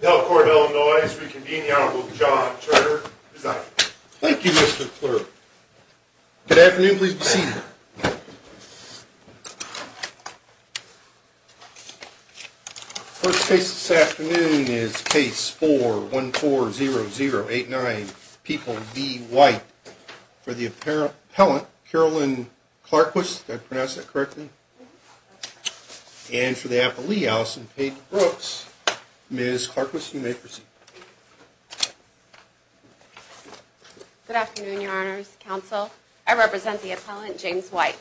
Delcourt, Illinois, to reconvene the Honorable John Turner as I. Thank you Mr. Clerk. Good afternoon, please be seated. First case this afternoon is case 4140089, People v. White, for the appellant, Carolyn Clarquist. Did I pronounce that correctly? And for the appellee, Allison Pate Brooks. Ms. Clarquist, you may proceed. Good afternoon, your honors, counsel. I represent the appellant, James White.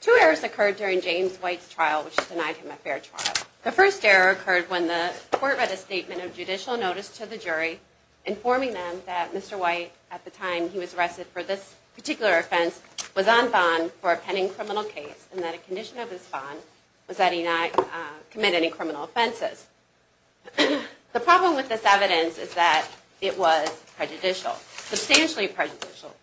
Two errors occurred during James White's trial which denied him a fair trial. The first error occurred when the court read a statement of judicial notice to the jury informing them that Mr. White, at the time he was arrested for this particular offense, was on bond for a pending criminal case and that a condition of his bond was that he not commit any criminal offenses. The problem with this evidence is that it was prejudicial, substantially prejudicial,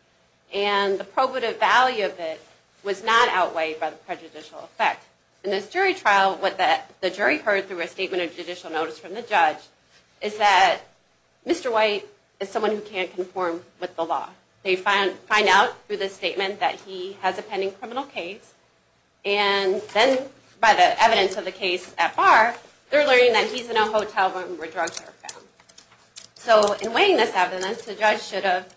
and the probative value of it was not outweighed by the prejudicial effect. In this jury trial, what the jury heard through a statement of judicial notice from the judge is that Mr. White is someone who can't conform with the law. They find out through this statement that he has a pending criminal case, and then by the evidence of the case at bar, they're learning that he's in a hotel room where drugs were found. So in weighing this evidence, the judge should have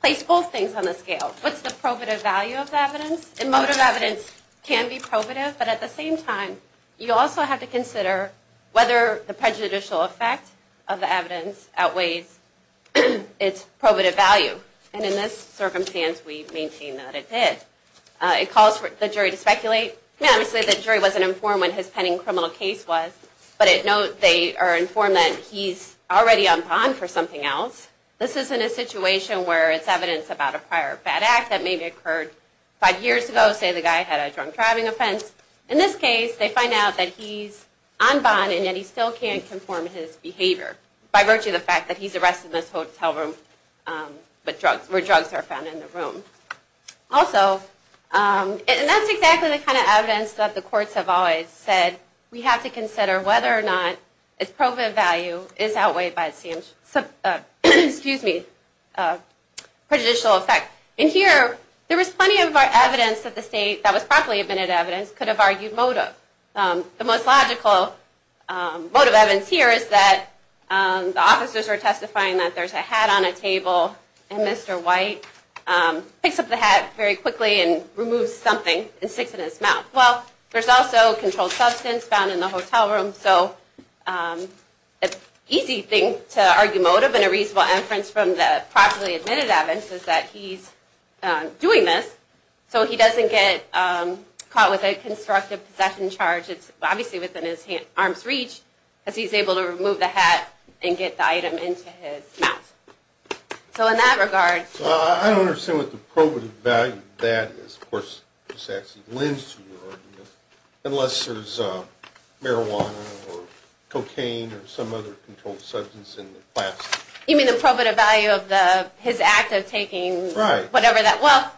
placed both things on the scale. What's the probative value of the evidence? Emotive evidence can be probative, but at the same time, you also have to consider whether the prejudicial effect of the evidence outweighs its probative value. And in this circumstance, we maintain that it did. It calls for the jury to speculate. Obviously, the jury wasn't informed what his pending criminal case was, but they are informed that he's already on bond for something else. This isn't a situation where it's evidence about a prior bad act that maybe occurred five years ago. Say the guy had a drunk driving offense. In this case, they find out that he's on bond, and yet he still can't conform to his behavior by virtue of the fact that he's arrested in this hotel room where drugs are found in the room. Also, and that's exactly the kind of evidence that the courts have always said we have to consider whether or not its probative value is outweighed by its prejudicial effect. In here, there was plenty of evidence that the state that was properly admitted evidence could have argued motive. The most logical motive evidence here is that the officers are testifying that there's a hat on a table, and Mr. White picks up the hat very quickly and removes something and sticks it in his mouth. Well, there's also controlled substance found in the hotel room, so an easy thing to argue motive and a reasonable inference from the properly admitted evidence is that he's doing this So he doesn't get caught with a constructive possession charge. It's obviously within his arm's reach because he's able to remove the hat and get the item into his mouth. So in that regard... I don't understand what the probative value of that is. Of course, this actually lends to your argument. Unless there's marijuana or cocaine or some other controlled substance in the plastic. You mean the probative value of his act of taking... Right. Well,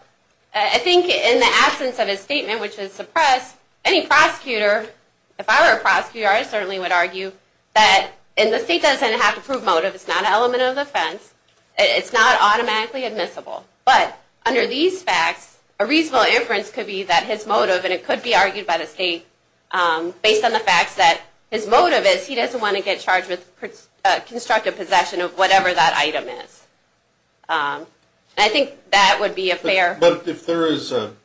I think in the absence of his statement, which is suppressed, any prosecutor... If I were a prosecutor, I certainly would argue that the state doesn't have to prove motive. It's not an element of defense. It's not automatically admissible. But under these facts, a reasonable inference could be that his motive... And it could be argued by the state based on the fact that his motive is he doesn't want to get charged with constructive possession of whatever that item is. I think that would be a fair... But if there is an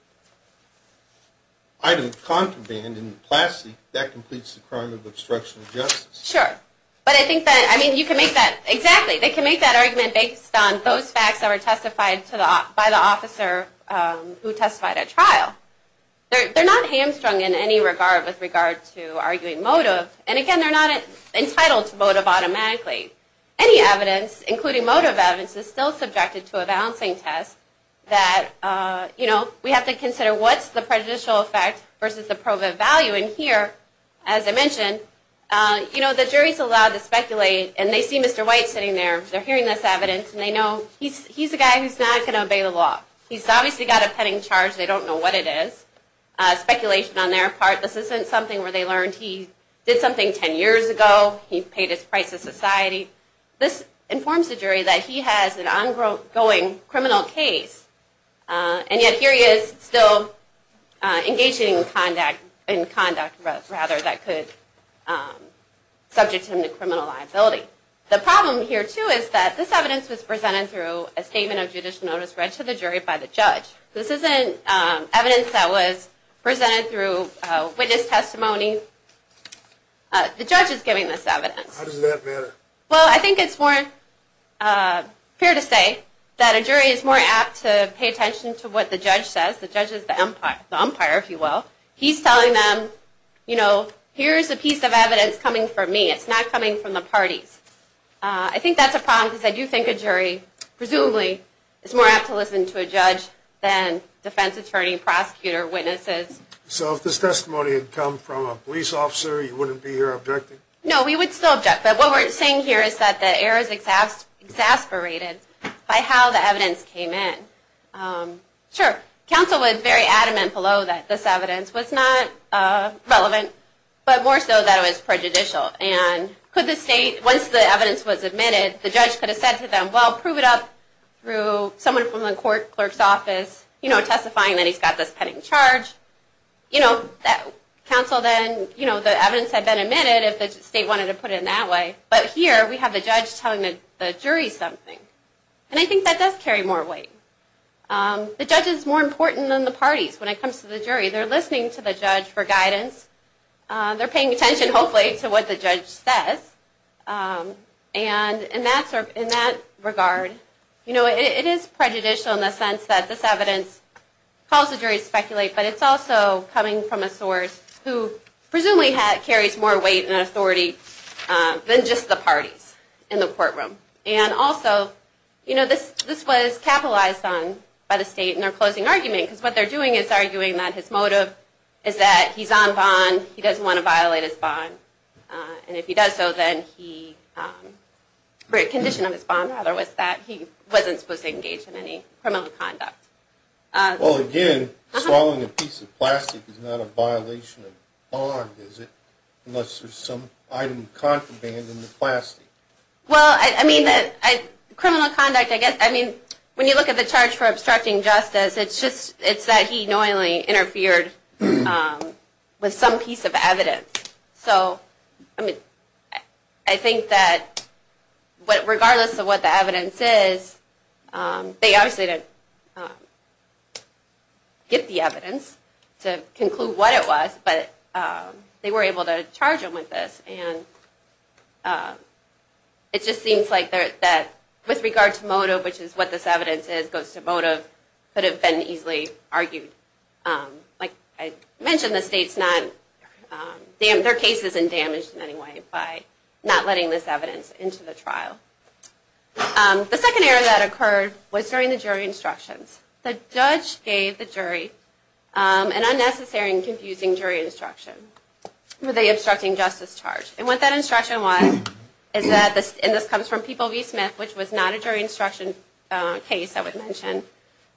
item contraband in the plastic, that completes the crime of obstruction of justice. Sure. But I think that... I mean, you can make that... Exactly. They can make that argument based on those facts that were testified by the officer who testified at trial. They're not hamstrung in any regard with regard to arguing motive. And again, they're not entitled to motive automatically. Any evidence, including motive evidence, is still subjected to a balancing test. That, you know, we have to consider what's the prejudicial effect versus the proven value. And here, as I mentioned, you know, the jury's allowed to speculate. And they see Mr. White sitting there. They're hearing this evidence. And they know he's a guy who's not going to obey the law. He's obviously got a pending charge. They don't know what it is. Speculation on their part. This isn't something where they learned he did something ten years ago. He paid his price to society. This informs the jury that he has an ongoing criminal case. And yet here he is still engaging in conduct that could subject him to criminal liability. The problem here, too, is that this evidence was presented through a statement of judicial notice read to the jury by the judge. This isn't evidence that was presented through witness testimony. The judge is giving this evidence. How does that matter? Well, I think it's more fair to say that a jury is more apt to pay attention to what the judge says. The judge is the umpire, if you will. He's telling them, you know, here's a piece of evidence coming from me. It's not coming from the parties. I think that's a problem because I do think a jury presumably is more apt to listen to a judge than defense attorney, prosecutor, witnesses. So if this testimony had come from a police officer, you wouldn't be here objecting? No, we would still object. But what we're saying here is that the error is exasperated by how the evidence came in. Sure, counsel was very adamant below that this evidence was not relevant, but more so that it was prejudicial. And could the state, once the evidence was admitted, the judge could have said to them, well, prove it up through someone from the court clerk's office, you know, testifying that he's got this pending charge. You know, counsel then, you know, the evidence had been admitted if the state wanted to put it in that way. But here we have the judge telling the jury something. And I think that does carry more weight. The judge is more important than the parties when it comes to the jury. They're listening to the judge for guidance. They're paying attention, hopefully, to what the judge says. And in that regard, you know, it is prejudicial in the sense that this evidence calls the jury to speculate, but it's also coming from a source who presumably carries more weight and authority than just the parties in the courtroom. And also, you know, this was capitalized on by the state in their closing argument, because what they're doing is arguing that his motive is that he's on bond, he doesn't want to violate his bond. And if he does so, then he, or a condition of his bond, rather, was that he wasn't supposed to engage in any criminal conduct. Well, again, swallowing a piece of plastic is not a violation of bond, is it? Unless there's some item of contraband in the plastic. Well, I mean, criminal conduct, I guess, I mean, when you look at the charge for obstructing justice, it's that he knowingly interfered with some piece of evidence. So, I mean, I think that regardless of what the evidence is, they obviously didn't get the evidence to conclude what it was, but they were able to charge him with this. And it just seems like with regard to motive, which is what this evidence is, goes to motive, it could have been easily argued. Like I mentioned, the state's not, their case isn't damaged in any way by not letting this evidence into the trial. The second area that occurred was during the jury instructions. The judge gave the jury an unnecessary and confusing jury instruction with the obstructing justice charge. Which was not a jury instruction case, I would mention.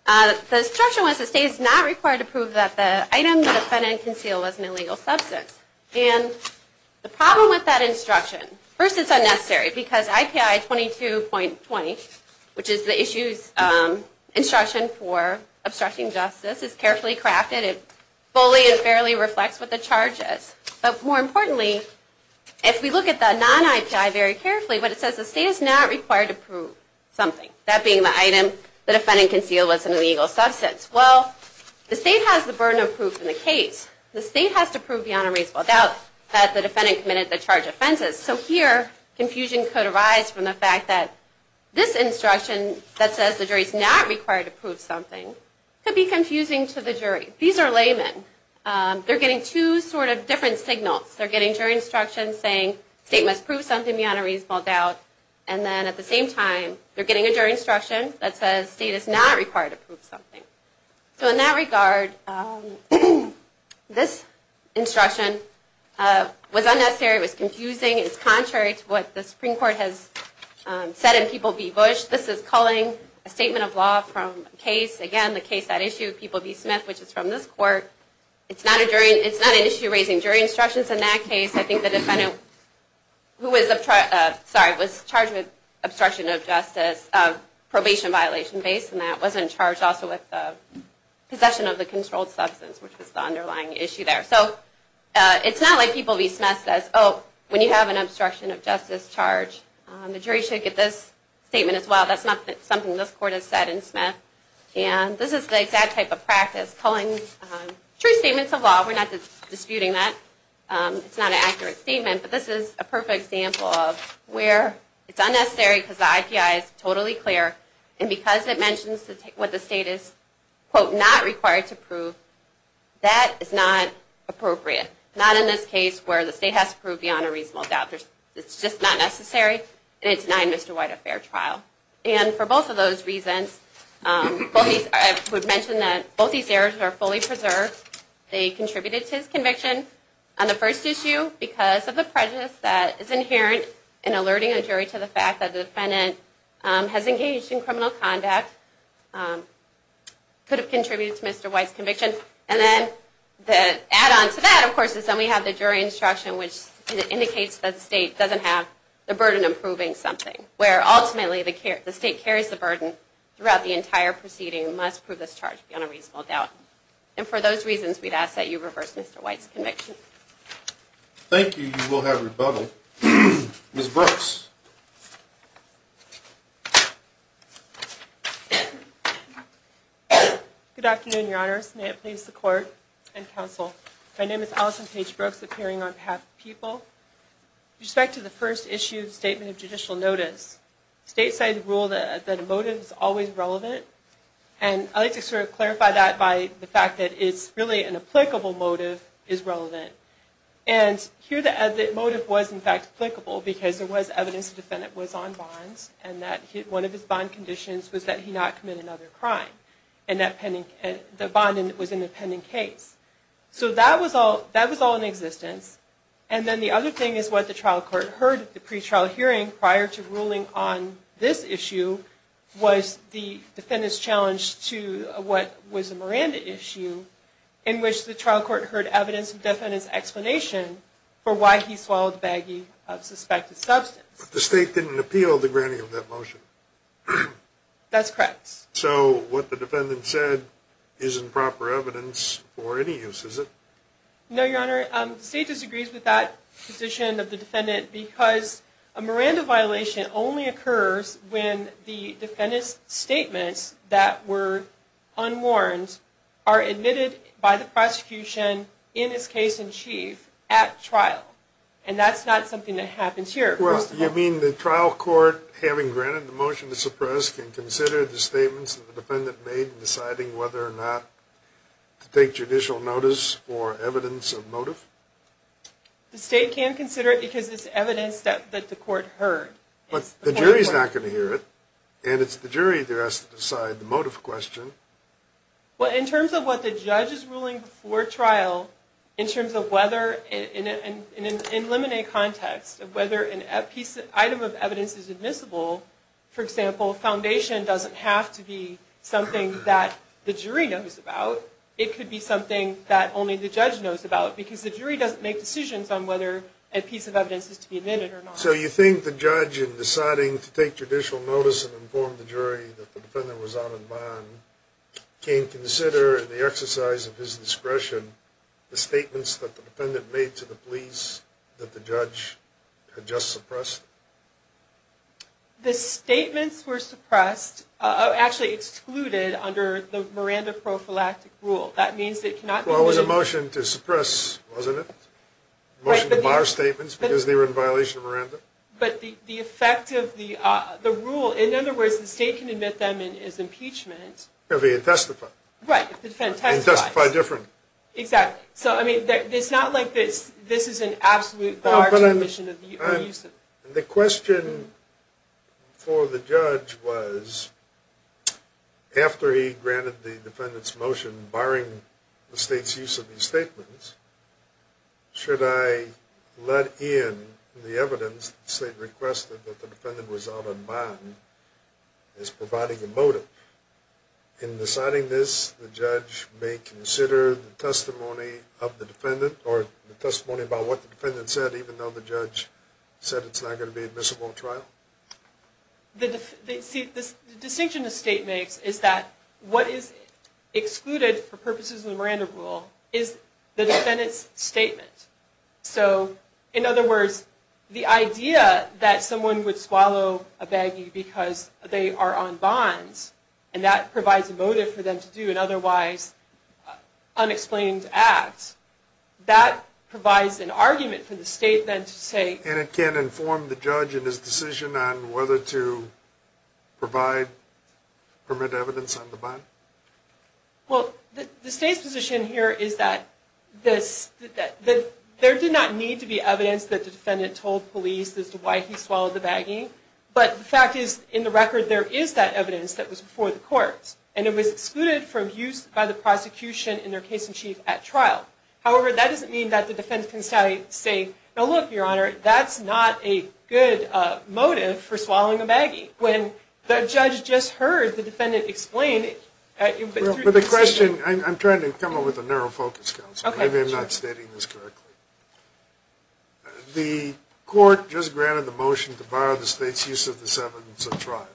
The instruction was the state is not required to prove that the item the defendant concealed was an illegal substance. And the problem with that instruction, first it's unnecessary because IPI 22.20, which is the issue's instruction for obstructing justice, is carefully crafted. It fully and fairly reflects what the charge is. But more importantly, if we look at the non-IPI very carefully, what it says is the state is not required to prove something. That being the item the defendant concealed was an illegal substance. Well, the state has the burden of proof in the case. The state has to prove beyond a reasonable doubt that the defendant committed the charged offenses. So here, confusion could arise from the fact that this instruction, that says the jury's not required to prove something, could be confusing to the jury. These are laymen. They're getting two sort of different signals. They're getting jury instructions saying the state must prove something beyond a reasonable doubt. And then at the same time, they're getting a jury instruction that says the state is not required to prove something. So in that regard, this instruction was unnecessary. It was confusing. It's contrary to what the Supreme Court has said in People v. Bush. This is culling a statement of law from a case. Again, the case at issue, People v. Smith, which is from this court. It's not an issue raising jury instructions in that case. I think the defendant who was charged with obstruction of justice, probation violation based on that, wasn't charged also with possession of the controlled substance, which was the underlying issue there. So it's not like People v. Smith says, oh, when you have an obstruction of justice charge, the jury should get this statement as well. That's not something this court has said in Smith. And this is the exact type of practice, culling true statements of law. We're not disputing that. It's not an accurate statement. But this is a perfect example of where it's unnecessary because the IPI is totally clear. And because it mentions what the state is, quote, not required to prove, that is not appropriate. Not in this case where the state has to prove beyond a reasonable doubt. It's just not necessary. And it denied Mr. White a fair trial. And for both of those reasons, I would mention that both these errors are fully preserved. They contributed to his conviction on the first issue because of the prejudice that is inherent in alerting a jury to the fact that the defendant has engaged in criminal conduct, could have contributed to Mr. White's conviction. And then the add-on to that, of course, is then we have the jury instruction, which indicates that the state doesn't have the burden of proving something. Where ultimately, the state carries the burden throughout the entire proceeding, must prove this charge beyond a reasonable doubt. And for those reasons, we'd ask that you reverse Mr. White's conviction. Thank you. You will have rebuttal. Ms. Brooks. Good afternoon, Your Honors. May it please the Court and Counsel. My name is Allison Paige Brooks, appearing on behalf of the people. With respect to the first issue, the Statement of Judicial Notice, stateside rule that a motive is always relevant. And I'd like to sort of clarify that by the fact that it's really an applicable motive is relevant. And here the motive was, in fact, applicable because there was evidence the defendant was on bond and that one of his bond conditions was that he not commit another crime. And the bond was in a pending case. So that was all in existence. And then the other thing is what the trial court heard at the pre-trial hearing prior to ruling on this issue was the defendant's challenge to what was a Miranda issue in which the trial court heard evidence of the defendant's explanation for why he swallowed a baggie of suspected substance. But the state didn't appeal the granting of that motion. That's correct. So what the defendant said isn't proper evidence for any use, is it? No, Your Honor. The state disagrees with that position of the defendant because a Miranda violation only occurs when the defendant's statements that were unwarned are admitted by the prosecution in his case in chief at trial. And that's not something that happens here. Well, you mean the trial court, having granted the motion to suppress, can consider the statements that the defendant made in deciding whether or not to take judicial notice for evidence of motive? The state can consider it because it's evidence that the court heard. But the jury's not going to hear it. And it's the jury that has to decide the motive question. Well, in terms of what the judge is ruling before trial, in terms of whether in a limited context of whether an item of evidence is admissible, for example, foundation doesn't have to be something that the jury knows about. It could be something that only the judge knows about because the jury doesn't make decisions on whether a piece of evidence is to be admitted or not. So you think the judge, in deciding to take judicial notice and inform the jury that the defendant was out on bond, can consider in the exercise of his discretion the statements that the defendant made to the police that the judge had just suppressed? The statements were suppressed, actually excluded, under the Miranda prophylactic rule. That means it cannot be... Well, it was a motion to suppress, wasn't it? Motion to bar statements because they were in violation of Miranda? But the effect of the rule, in other words, the state can admit them as impeachment. If they testify. Right. If the defendant testifies. If they testify different. Exactly. So, I mean, it's not like this is an absolute bar to the commission of use. The question for the judge was, after he granted the defendant's motion, barring the state's use of these statements, should I let in the evidence that the state requested that the defendant was out on bond as providing a motive? In deciding this, the judge may consider the testimony of the defendant or the testimony about what the defendant said, even though the judge said it's not going to be admissible in trial? The distinction the state makes is that what is excluded for purposes of the Miranda rule is the defendant's statement. So, in other words, the idea that someone would swallow a baggie because they are on bonds and that provides a motive for them to do an otherwise unexplained act, that provides an argument for the state then to say. And it can inform the judge in his decision on whether to provide permanent evidence on the bond? Well, the state's position here is that there did not need to be evidence that the defendant told police as to why he swallowed the baggie. But the fact is, in the record, there is that evidence that was before the courts. And it was excluded from use by the prosecution in their case in chief at trial. However, that doesn't mean that the defendant can say, now look, Your Honor, that's not a good motive for swallowing a baggie. When the judge just heard the defendant explain. Well, for the question, I'm trying to come up with a narrow focus, Counsel. Maybe I'm not stating this correctly. The court just granted the motion to bar the state's use of this evidence at trial.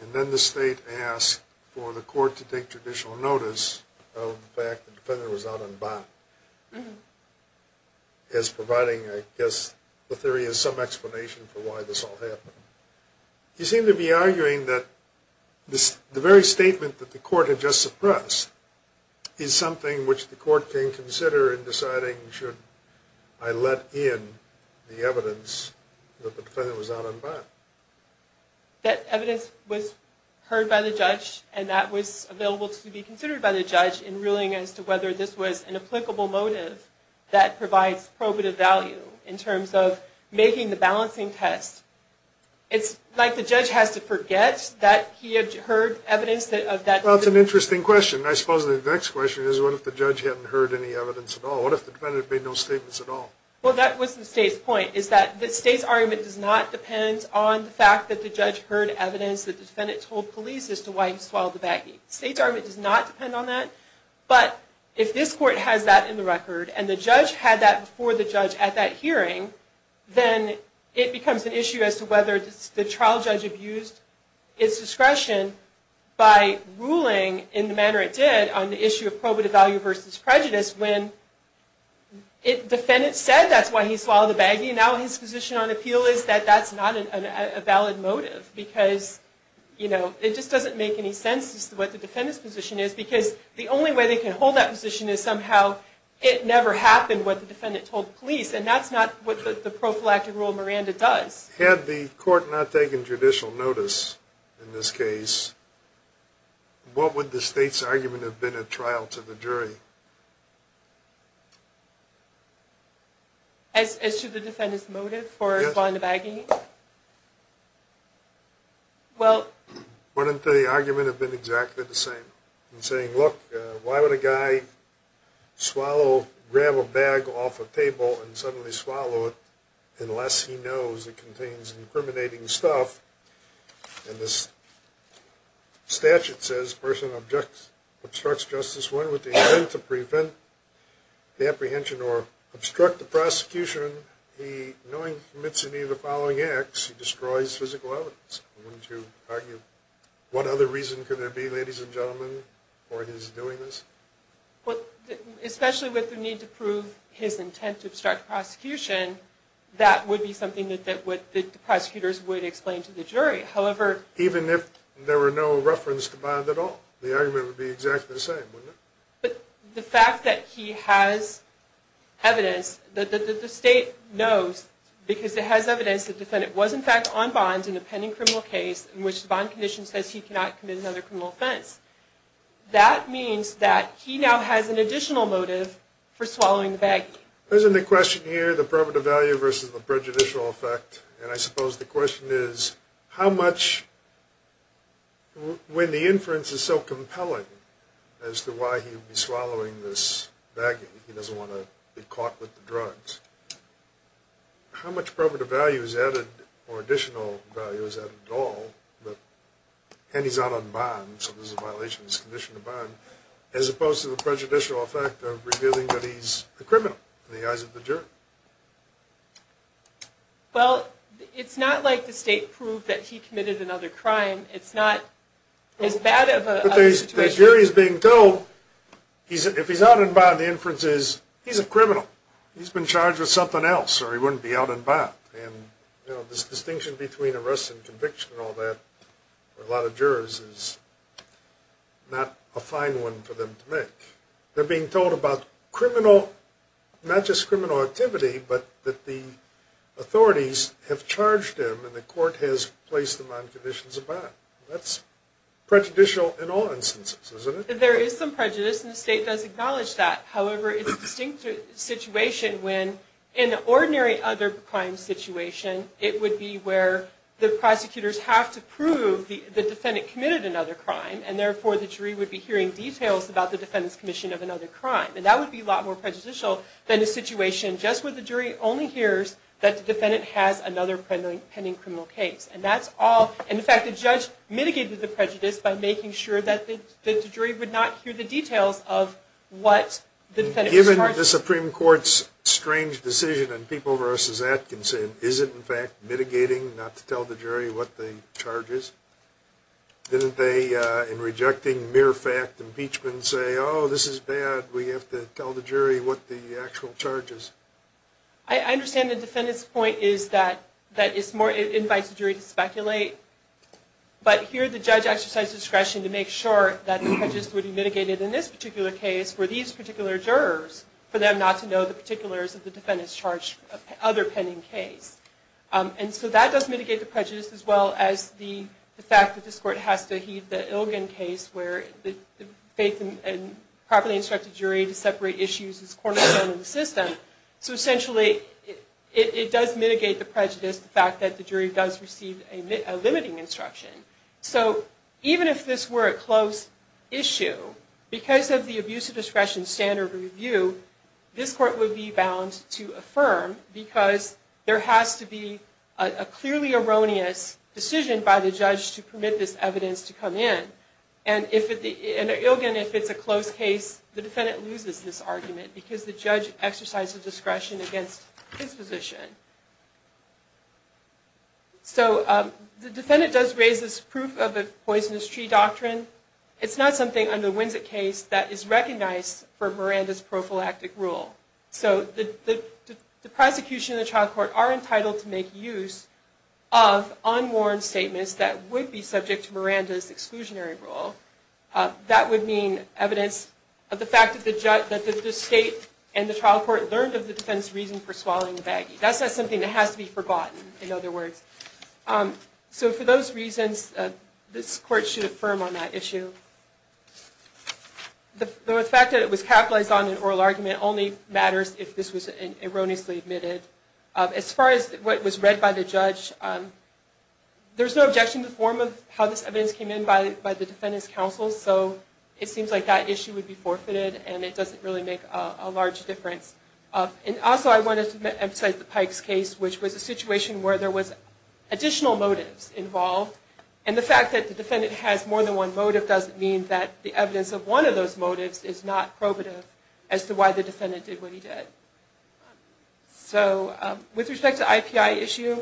And then the state asked for the court to take traditional notice of the fact that the defendant was out on bond. As providing, I guess, the theory as some explanation for why this all happened. You seem to be arguing that the very statement that the court had just suppressed is something which the court can consider in deciding should I let in the evidence that the defendant was out on bond. That evidence was heard by the judge and that was available to be considered by the judge in ruling as to whether this was an applicable motive that provides probative value in terms of making the balancing test. It's like the judge has to forget that he had heard evidence of that. Well, that's an interesting question. I suppose the next question is what if the judge hadn't heard any evidence at all? What if the defendant made no statements at all? Well, that was the state's point. The state's argument does not depend on the fact that the judge heard evidence that the defendant told police as to why he swallowed the baggie. The state's argument does not depend on that. But if this court has that in the record and the judge had that before the judge at that hearing, then it becomes an issue as to whether the trial judge abused its discretion by ruling in the manner it did on the issue of probative value versus prejudice when the defendant said that's why he swallowed the baggie. Now his position on appeal is that that's not a valid motive because it just doesn't make any sense as to what the defendant's position is because the only way they can hold that position is somehow it never happened what the defendant told police and that's not what the prophylactic rule Miranda does. Had the court not taken judicial notice in this case, what would the state's argument have been at trial to the jury? As to the defendant's motive for swallowing the baggie? Well, wouldn't the argument have been exactly the same? In saying, look, why would a guy grab a bag off a table and suddenly swallow it unless he knows it contains incriminating stuff? And this statute says a person obstructs justice when with the intent to prevent the apprehension or obstruct the prosecution, he knowingly commits any of the following acts, he destroys physical evidence. What other reason could there be, ladies and gentlemen, for his doing this? Especially with the need to prove his intent to obstruct the prosecution, that would be something that the prosecutors would explain to the jury. However, even if there were no reference to Bond at all, the argument would be exactly the same, wouldn't it? But the fact that he has evidence, that the state knows, because it has evidence that the defendant was in fact on Bond in a pending criminal case in which the Bond condition says he cannot commit another criminal offense, that means that he now has an additional motive for swallowing the baggie. There's a question here, the prerogative value versus the prejudicial effect, and I suppose the question is how much, when the inference is so compelling as to why he would be swallowing this baggie, he doesn't want to be caught with the drugs, how much prerogative value is added or additional value is added at all, and he's out on Bond, so this is a violation of his condition on Bond, as opposed to the prejudicial effect of revealing that he's a criminal in the eyes of the jury? Well, it's not like the state proved that he committed another crime, it's not as bad of a situation. But the jury is being told, if he's out on Bond, the inference is he's a criminal, he's been charged with something else, or he wouldn't be out on Bond. And this distinction between arrest and conviction and all that, for a lot of jurors, is not a fine one for them to make. They're being told about criminal, not just criminal activity, but that the authorities have charged him and the court has placed him on conditions of bond. That's prejudicial in all instances, isn't it? There is some prejudice, and the state does acknowledge that. However, it's a distinct situation when, in an ordinary other crime situation, it would be where the prosecutors have to prove the defendant committed another crime, and therefore the jury would be hearing details about the defendant's commission of another crime. And that would be a lot more prejudicial than a situation just where the jury only hears that the defendant has another pending criminal case. And in fact, the judge mitigated the prejudice by making sure that the jury would not hear the details of what the defendant was charged with. Given the Supreme Court's strange decision in People v. Atkinson, is it in fact mitigating not to tell the jury what the charge is? Didn't they, in rejecting mere fact impeachment, say, oh, this is bad, we have to tell the jury what the actual charge is? I understand the defendant's point is that it invites the jury to speculate, but here the judge exercised discretion to make sure that the prejudice would be mitigated in this particular case, where these particular jurors, for them not to know the particulars of the defendant's charged other pending case. And so that does mitigate the prejudice, as well as the fact that this court has to heed the Ilgen case, where the faith and properly instructed jury to separate issues is cornerstone of the system. So essentially, it does mitigate the prejudice, the fact that the jury does receive a limiting instruction. So even if this were a close issue, because of the abuse of discretion standard review, this court would be bound to affirm, because there has to be a clearly erroneous decision by the judge to permit this evidence to come in. And if it's a close case, the defendant loses this argument, because the judge exercised discretion against his position. So the defendant does raise this proof of a poisonous tree doctrine. It's not something under the Winsett case that is recognized for Miranda's prophylactic rule. So the prosecution and the trial court are entitled to make use of unworn statements that would be subject to Miranda's exclusionary rule. That would mean evidence of the fact that the state and the trial court learned of the defendant's reason for swallowing the baggie. That's not something that has to be forgotten, in other words. So for those reasons, this court should affirm on that issue. The fact that it was capitalized on in oral argument only matters if this was erroneously admitted. As far as what was read by the judge, there's no objection to the form of how this evidence came in by the defendant's counsel. So it seems like that issue would be forfeited, and it doesn't really make a large difference. Also, I wanted to emphasize the Pikes case, which was a situation where there was additional motives involved. And the fact that the defendant has more than one motive doesn't mean that the evidence of one of those motives is not probative as to why the defendant did what he did. So with respect to the IPI issue,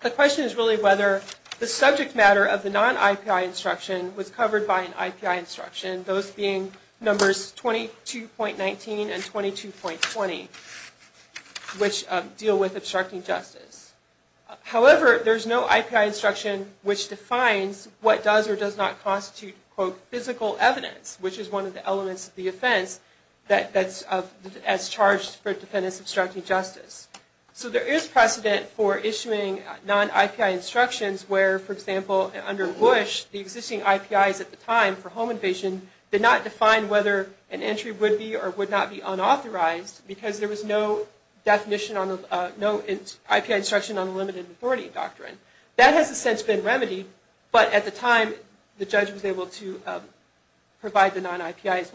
the question is really whether the subject matter of the non-IPI instruction was covered by an IPI instruction, those being numbers 22.19 and 22.20, which deal with obstructing justice. However, there's no IPI instruction which defines what does or does not constitute, quote, physical evidence, which is one of the elements of the offense that's charged for a defendant's obstructing justice. So there is precedent for issuing non-IPI instructions where, for example, under Bush, the existing IPIs at the time for home invasion did not define whether an entry would be or would not be unauthorized because there was no IPI instruction on the limited authority doctrine. That has since been remedied, but at the time, the judge was able to provide the non-IPIs.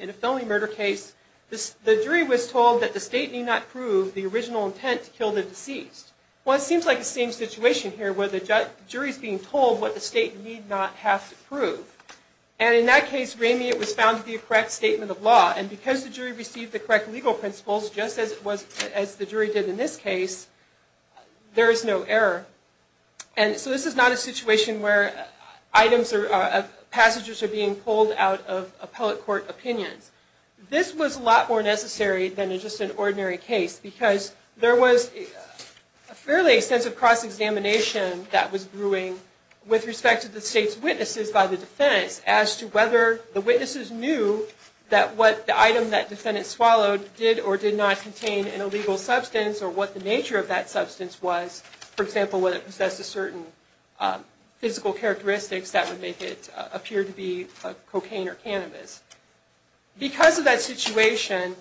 In a felony murder case, the jury was told that the state need not prove the original intent to kill the deceased. Well, it seems like the same situation here where the jury is being told what the state need not have to prove. And in that case, it was found to be a correct statement of law. And because the jury received the correct legal principles, just as the jury did in this case, there is no error. And so this is not a situation where items or passages are being pulled out of appellate court opinions. This was a lot more necessary than just an ordinary case because there was a fairly extensive cross-examination that was brewing with respect to the state's witnesses by the defendants as to whether the witnesses knew that what the item that defendant swallowed did or did not contain an illegal substance or what the nature of that substance was. For example, whether it possessed a certain physical characteristics that would make it appear to be cocaine or cannabis. Because of that situation,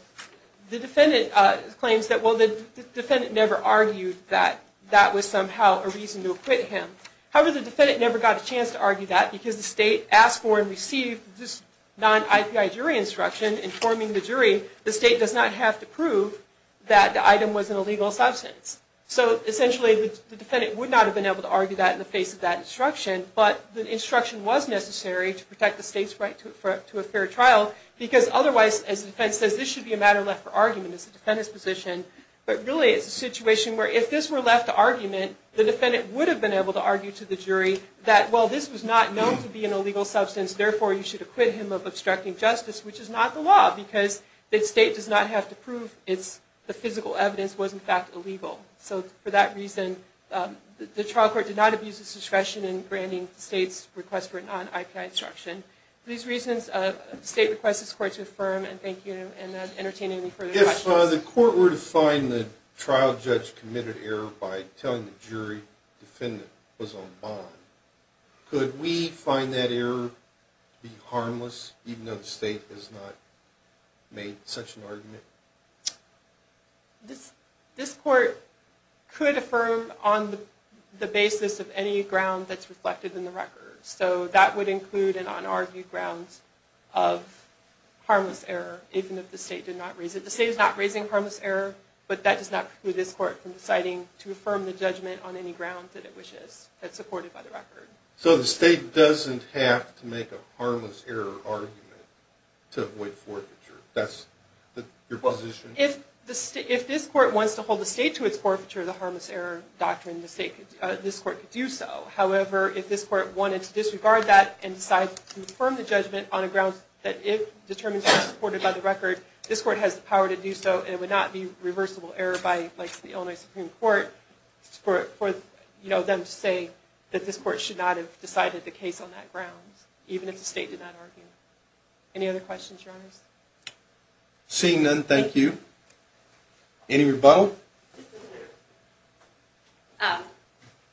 the defendant claims that, well, the defendant never argued that that was somehow a reason to acquit him. However, the defendant never got a chance to argue that because the state asked for and received this non-IPI jury instruction informing the jury, the state does not have to prove that the item was an illegal substance. So essentially, the defendant would not have been able to argue that in the face of that instruction, but the instruction was necessary to protect the state's right to a fair trial because otherwise, as the defense says, this should be a matter left for argument as a defendant's position. But really, it's a situation where if this were left to argument, the defendant would have been able to argue to the jury that, well, this was not known to be an illegal substance, therefore you should acquit him of obstructing justice, which is not the law because the state does not have to prove the physical evidence was, in fact, illegal. So for that reason, the trial court did not abuse its discretion in granting the state's request for a non-IPI instruction. For these reasons, the state requests this court to affirm, and thank you for entertaining any further questions. If the court were to find the trial judge committed error by telling the jury the defendant was on bond, could we find that error to be harmless, even though the state has not made such an argument? This court could affirm on the basis of any ground that's reflected in the record. So that would include an unargued grounds of harmless error, even if the state did not raise it. The state is not raising harmless error, but that does not preclude this court from deciding to affirm the judgment on any ground that it wishes, that's supported by the record. So the state doesn't have to make a harmless error argument to avoid forfeiture. That's your position? If this court wants to hold the state to its forfeiture of the harmless error doctrine, this court could do so. However, if this court wanted to disregard that and decide to affirm the judgment on a ground that it determines that it's supported by the record, this court has the power to do so, and it would not be reversible error by the Illinois Supreme Court for them to say that this court should not have decided the case on that ground, even if the state did not argue. Any other questions, Your Honors? Seeing none, thank you. Any rebuttal?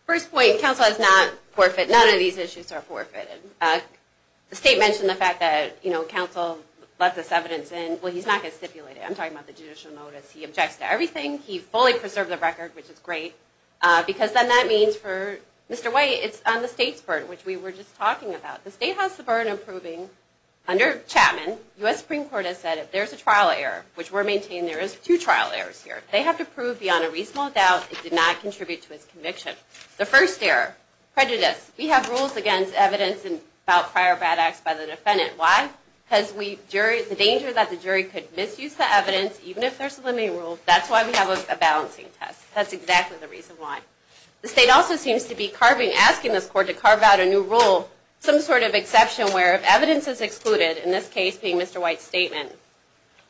First point, counsel has not forfeited. None of these issues are forfeited. The state mentioned the fact that counsel let this evidence in. Well, he's not going to stipulate it. I'm talking about the judicial notice. He objects to everything. He fully preserved the record, which is great. Because then that means for Mr. White, it's on the state's part, which we were just talking about. The state has the burden of proving, under Chapman, the U.S. Supreme Court has said if there's a trial error, which we're maintaining there is two trial errors here, they have to prove beyond a reasonable doubt it did not contribute to its conviction. The first error, prejudice. We have rules against evidence about prior bad acts by the defendant. Why? Because the danger that the jury could misuse the evidence, even if there's a limiting rule, that's why we have a balancing test. That's exactly the reason why. The state also seems to be asking this court to carve out a new rule, some sort of exception where if evidence is excluded, in this case being Mr. White's statement,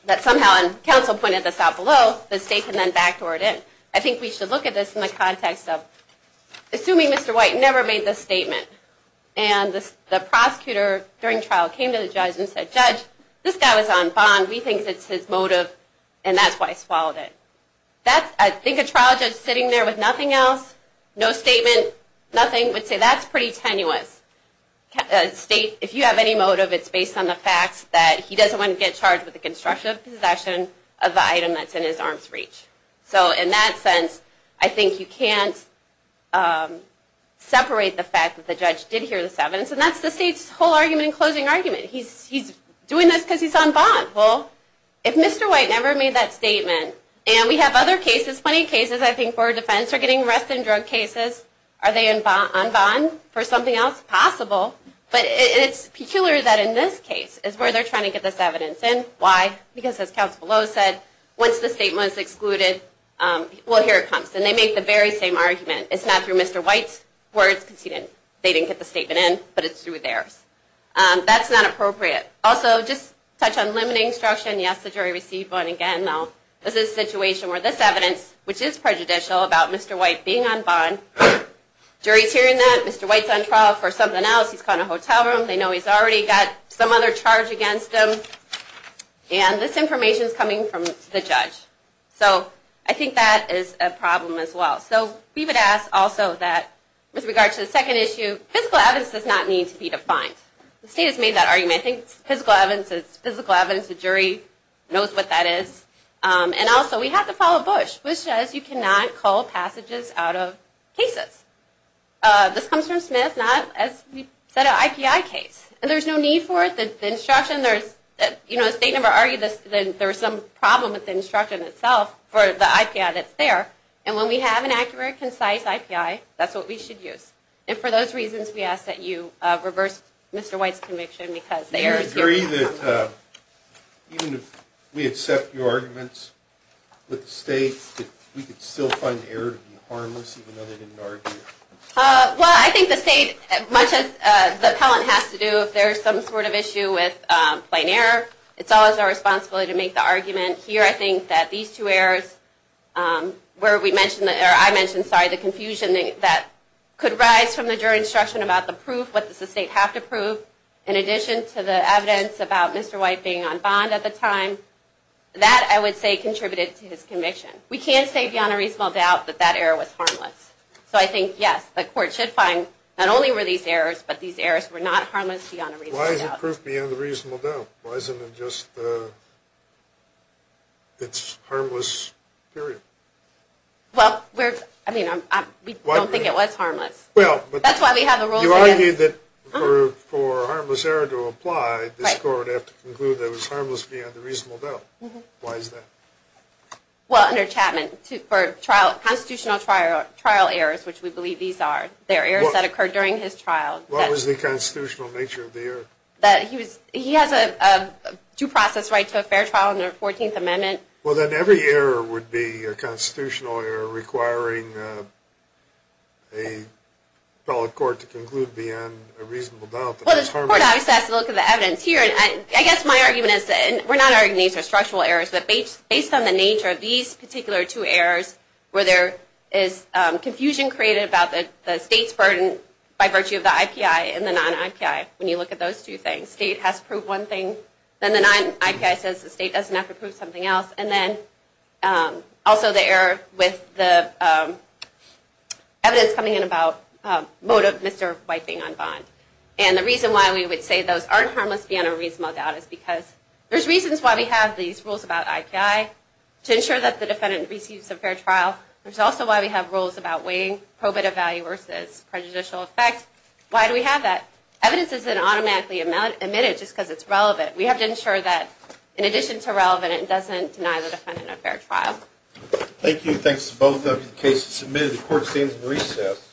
that somehow, and counsel pointed this out below, the state can then backdoor it in. I think we should look at this in the context of assuming Mr. White never made this statement, and the prosecutor during trial came to the judge and said, Judge, this guy was on bond. We think it's his motive, and that's why he swallowed it. I think a trial judge sitting there with nothing else, no statement, nothing, would say that's pretty tenuous. If you have any motive, it's based on the fact that he doesn't want to get charged with the construction of possession of the item that's in his arm's reach. So in that sense, I think you can't separate the fact that the judge did hear this evidence, and that's the state's whole argument and closing argument. He's doing this because he's on bond. Well, if Mr. White never made that statement, and we have other cases, plenty of cases I think for defense, or getting arrested in drug cases, are they on bond for something else? Possible. But it's peculiar that in this case is where they're trying to get this evidence in. Why? Because as counsel below said, once the statement is excluded, well, here it comes. And they make the very same argument. It's not through Mr. White's words, because they didn't get the statement in, but it's through theirs. That's not appropriate. Also, just to touch on limiting instruction, yes, the jury received bond again. Now, this is a situation where this evidence, which is prejudicial about Mr. White being on bond, jury's hearing that, Mr. White's on trial for something else, he's caught in a hotel room, they know he's already got some other charge against him, and this information's coming from the judge. So I think that is a problem as well. So we would ask also that, with regard to the second issue, physical evidence does not need to be defined. The state has made that argument. I think physical evidence is physical evidence. The jury knows what that is. And also, we have to follow Bush, which says you cannot call passages out of cases. This comes from Smith, not, as we said, an IPI case. And there's no need for it. The state never argued that there was some problem with the instruction itself for the IPI that's there. And when we have an accurate, concise IPI, that's what we should use. And for those reasons, we ask that you reverse Mr. White's conviction, because the error's here. I agree that, even if we accept your arguments with the state, that we could still find the error to be harmless, even though they didn't argue it. Well, I think the state, much as the appellant has to do, if there's some sort of issue with plain error, it's always our responsibility to make the argument. Here, I think that these two errors, where I mentioned the confusion that could rise from the jury's instruction about the proof, what does the state have to prove, in addition to the evidence about Mr. White being on bond at the time, that, I would say, contributed to his conviction. We can't say beyond a reasonable doubt that that error was harmless. So I think, yes, the court should find, not only were these errors, but these errors were not harmless beyond a reasonable doubt. Why is the proof beyond a reasonable doubt? Why isn't it just, it's harmless, period? Well, I mean, we don't think it was harmless. You argue that for a harmless error to apply, this court would have to conclude that it was harmless beyond a reasonable doubt. Why is that? Well, under Chapman, for constitutional trial errors, which we believe these are, they're errors that occurred during his trial. What was the constitutional nature of the error? That he has a due process right to a fair trial under the 14th Amendment. Well, then every error would be a constitutional error requiring a appellate court to conclude beyond a reasonable doubt that it was harmless. Well, the court always has to look at the evidence here, and I guess my argument is that, and we're not arguing these are structural errors, but based on the nature of these particular two errors, where there is confusion created about the state's burden by virtue of the IPI and the non-IPI, when you look at those two things, the state has to prove one thing, then the non-IPI says the state doesn't have to prove something else, and then also the error with the evidence coming in about Mr. Wiping on Bond. And the reason why we would say those aren't harmless beyond a reasonable doubt is because there's reasons why we have these rules about IPI to ensure that the defendant receives a fair trial. There's also why we have rules about weighing probative value versus prejudicial effect. Why do we have that? Evidence isn't automatically admitted just because it's relevant. We have to ensure that, in addition to relevant, it doesn't deny the defendant a fair trial. Thank you. Thanks to both of you. The case is submitted. The court stands in recess.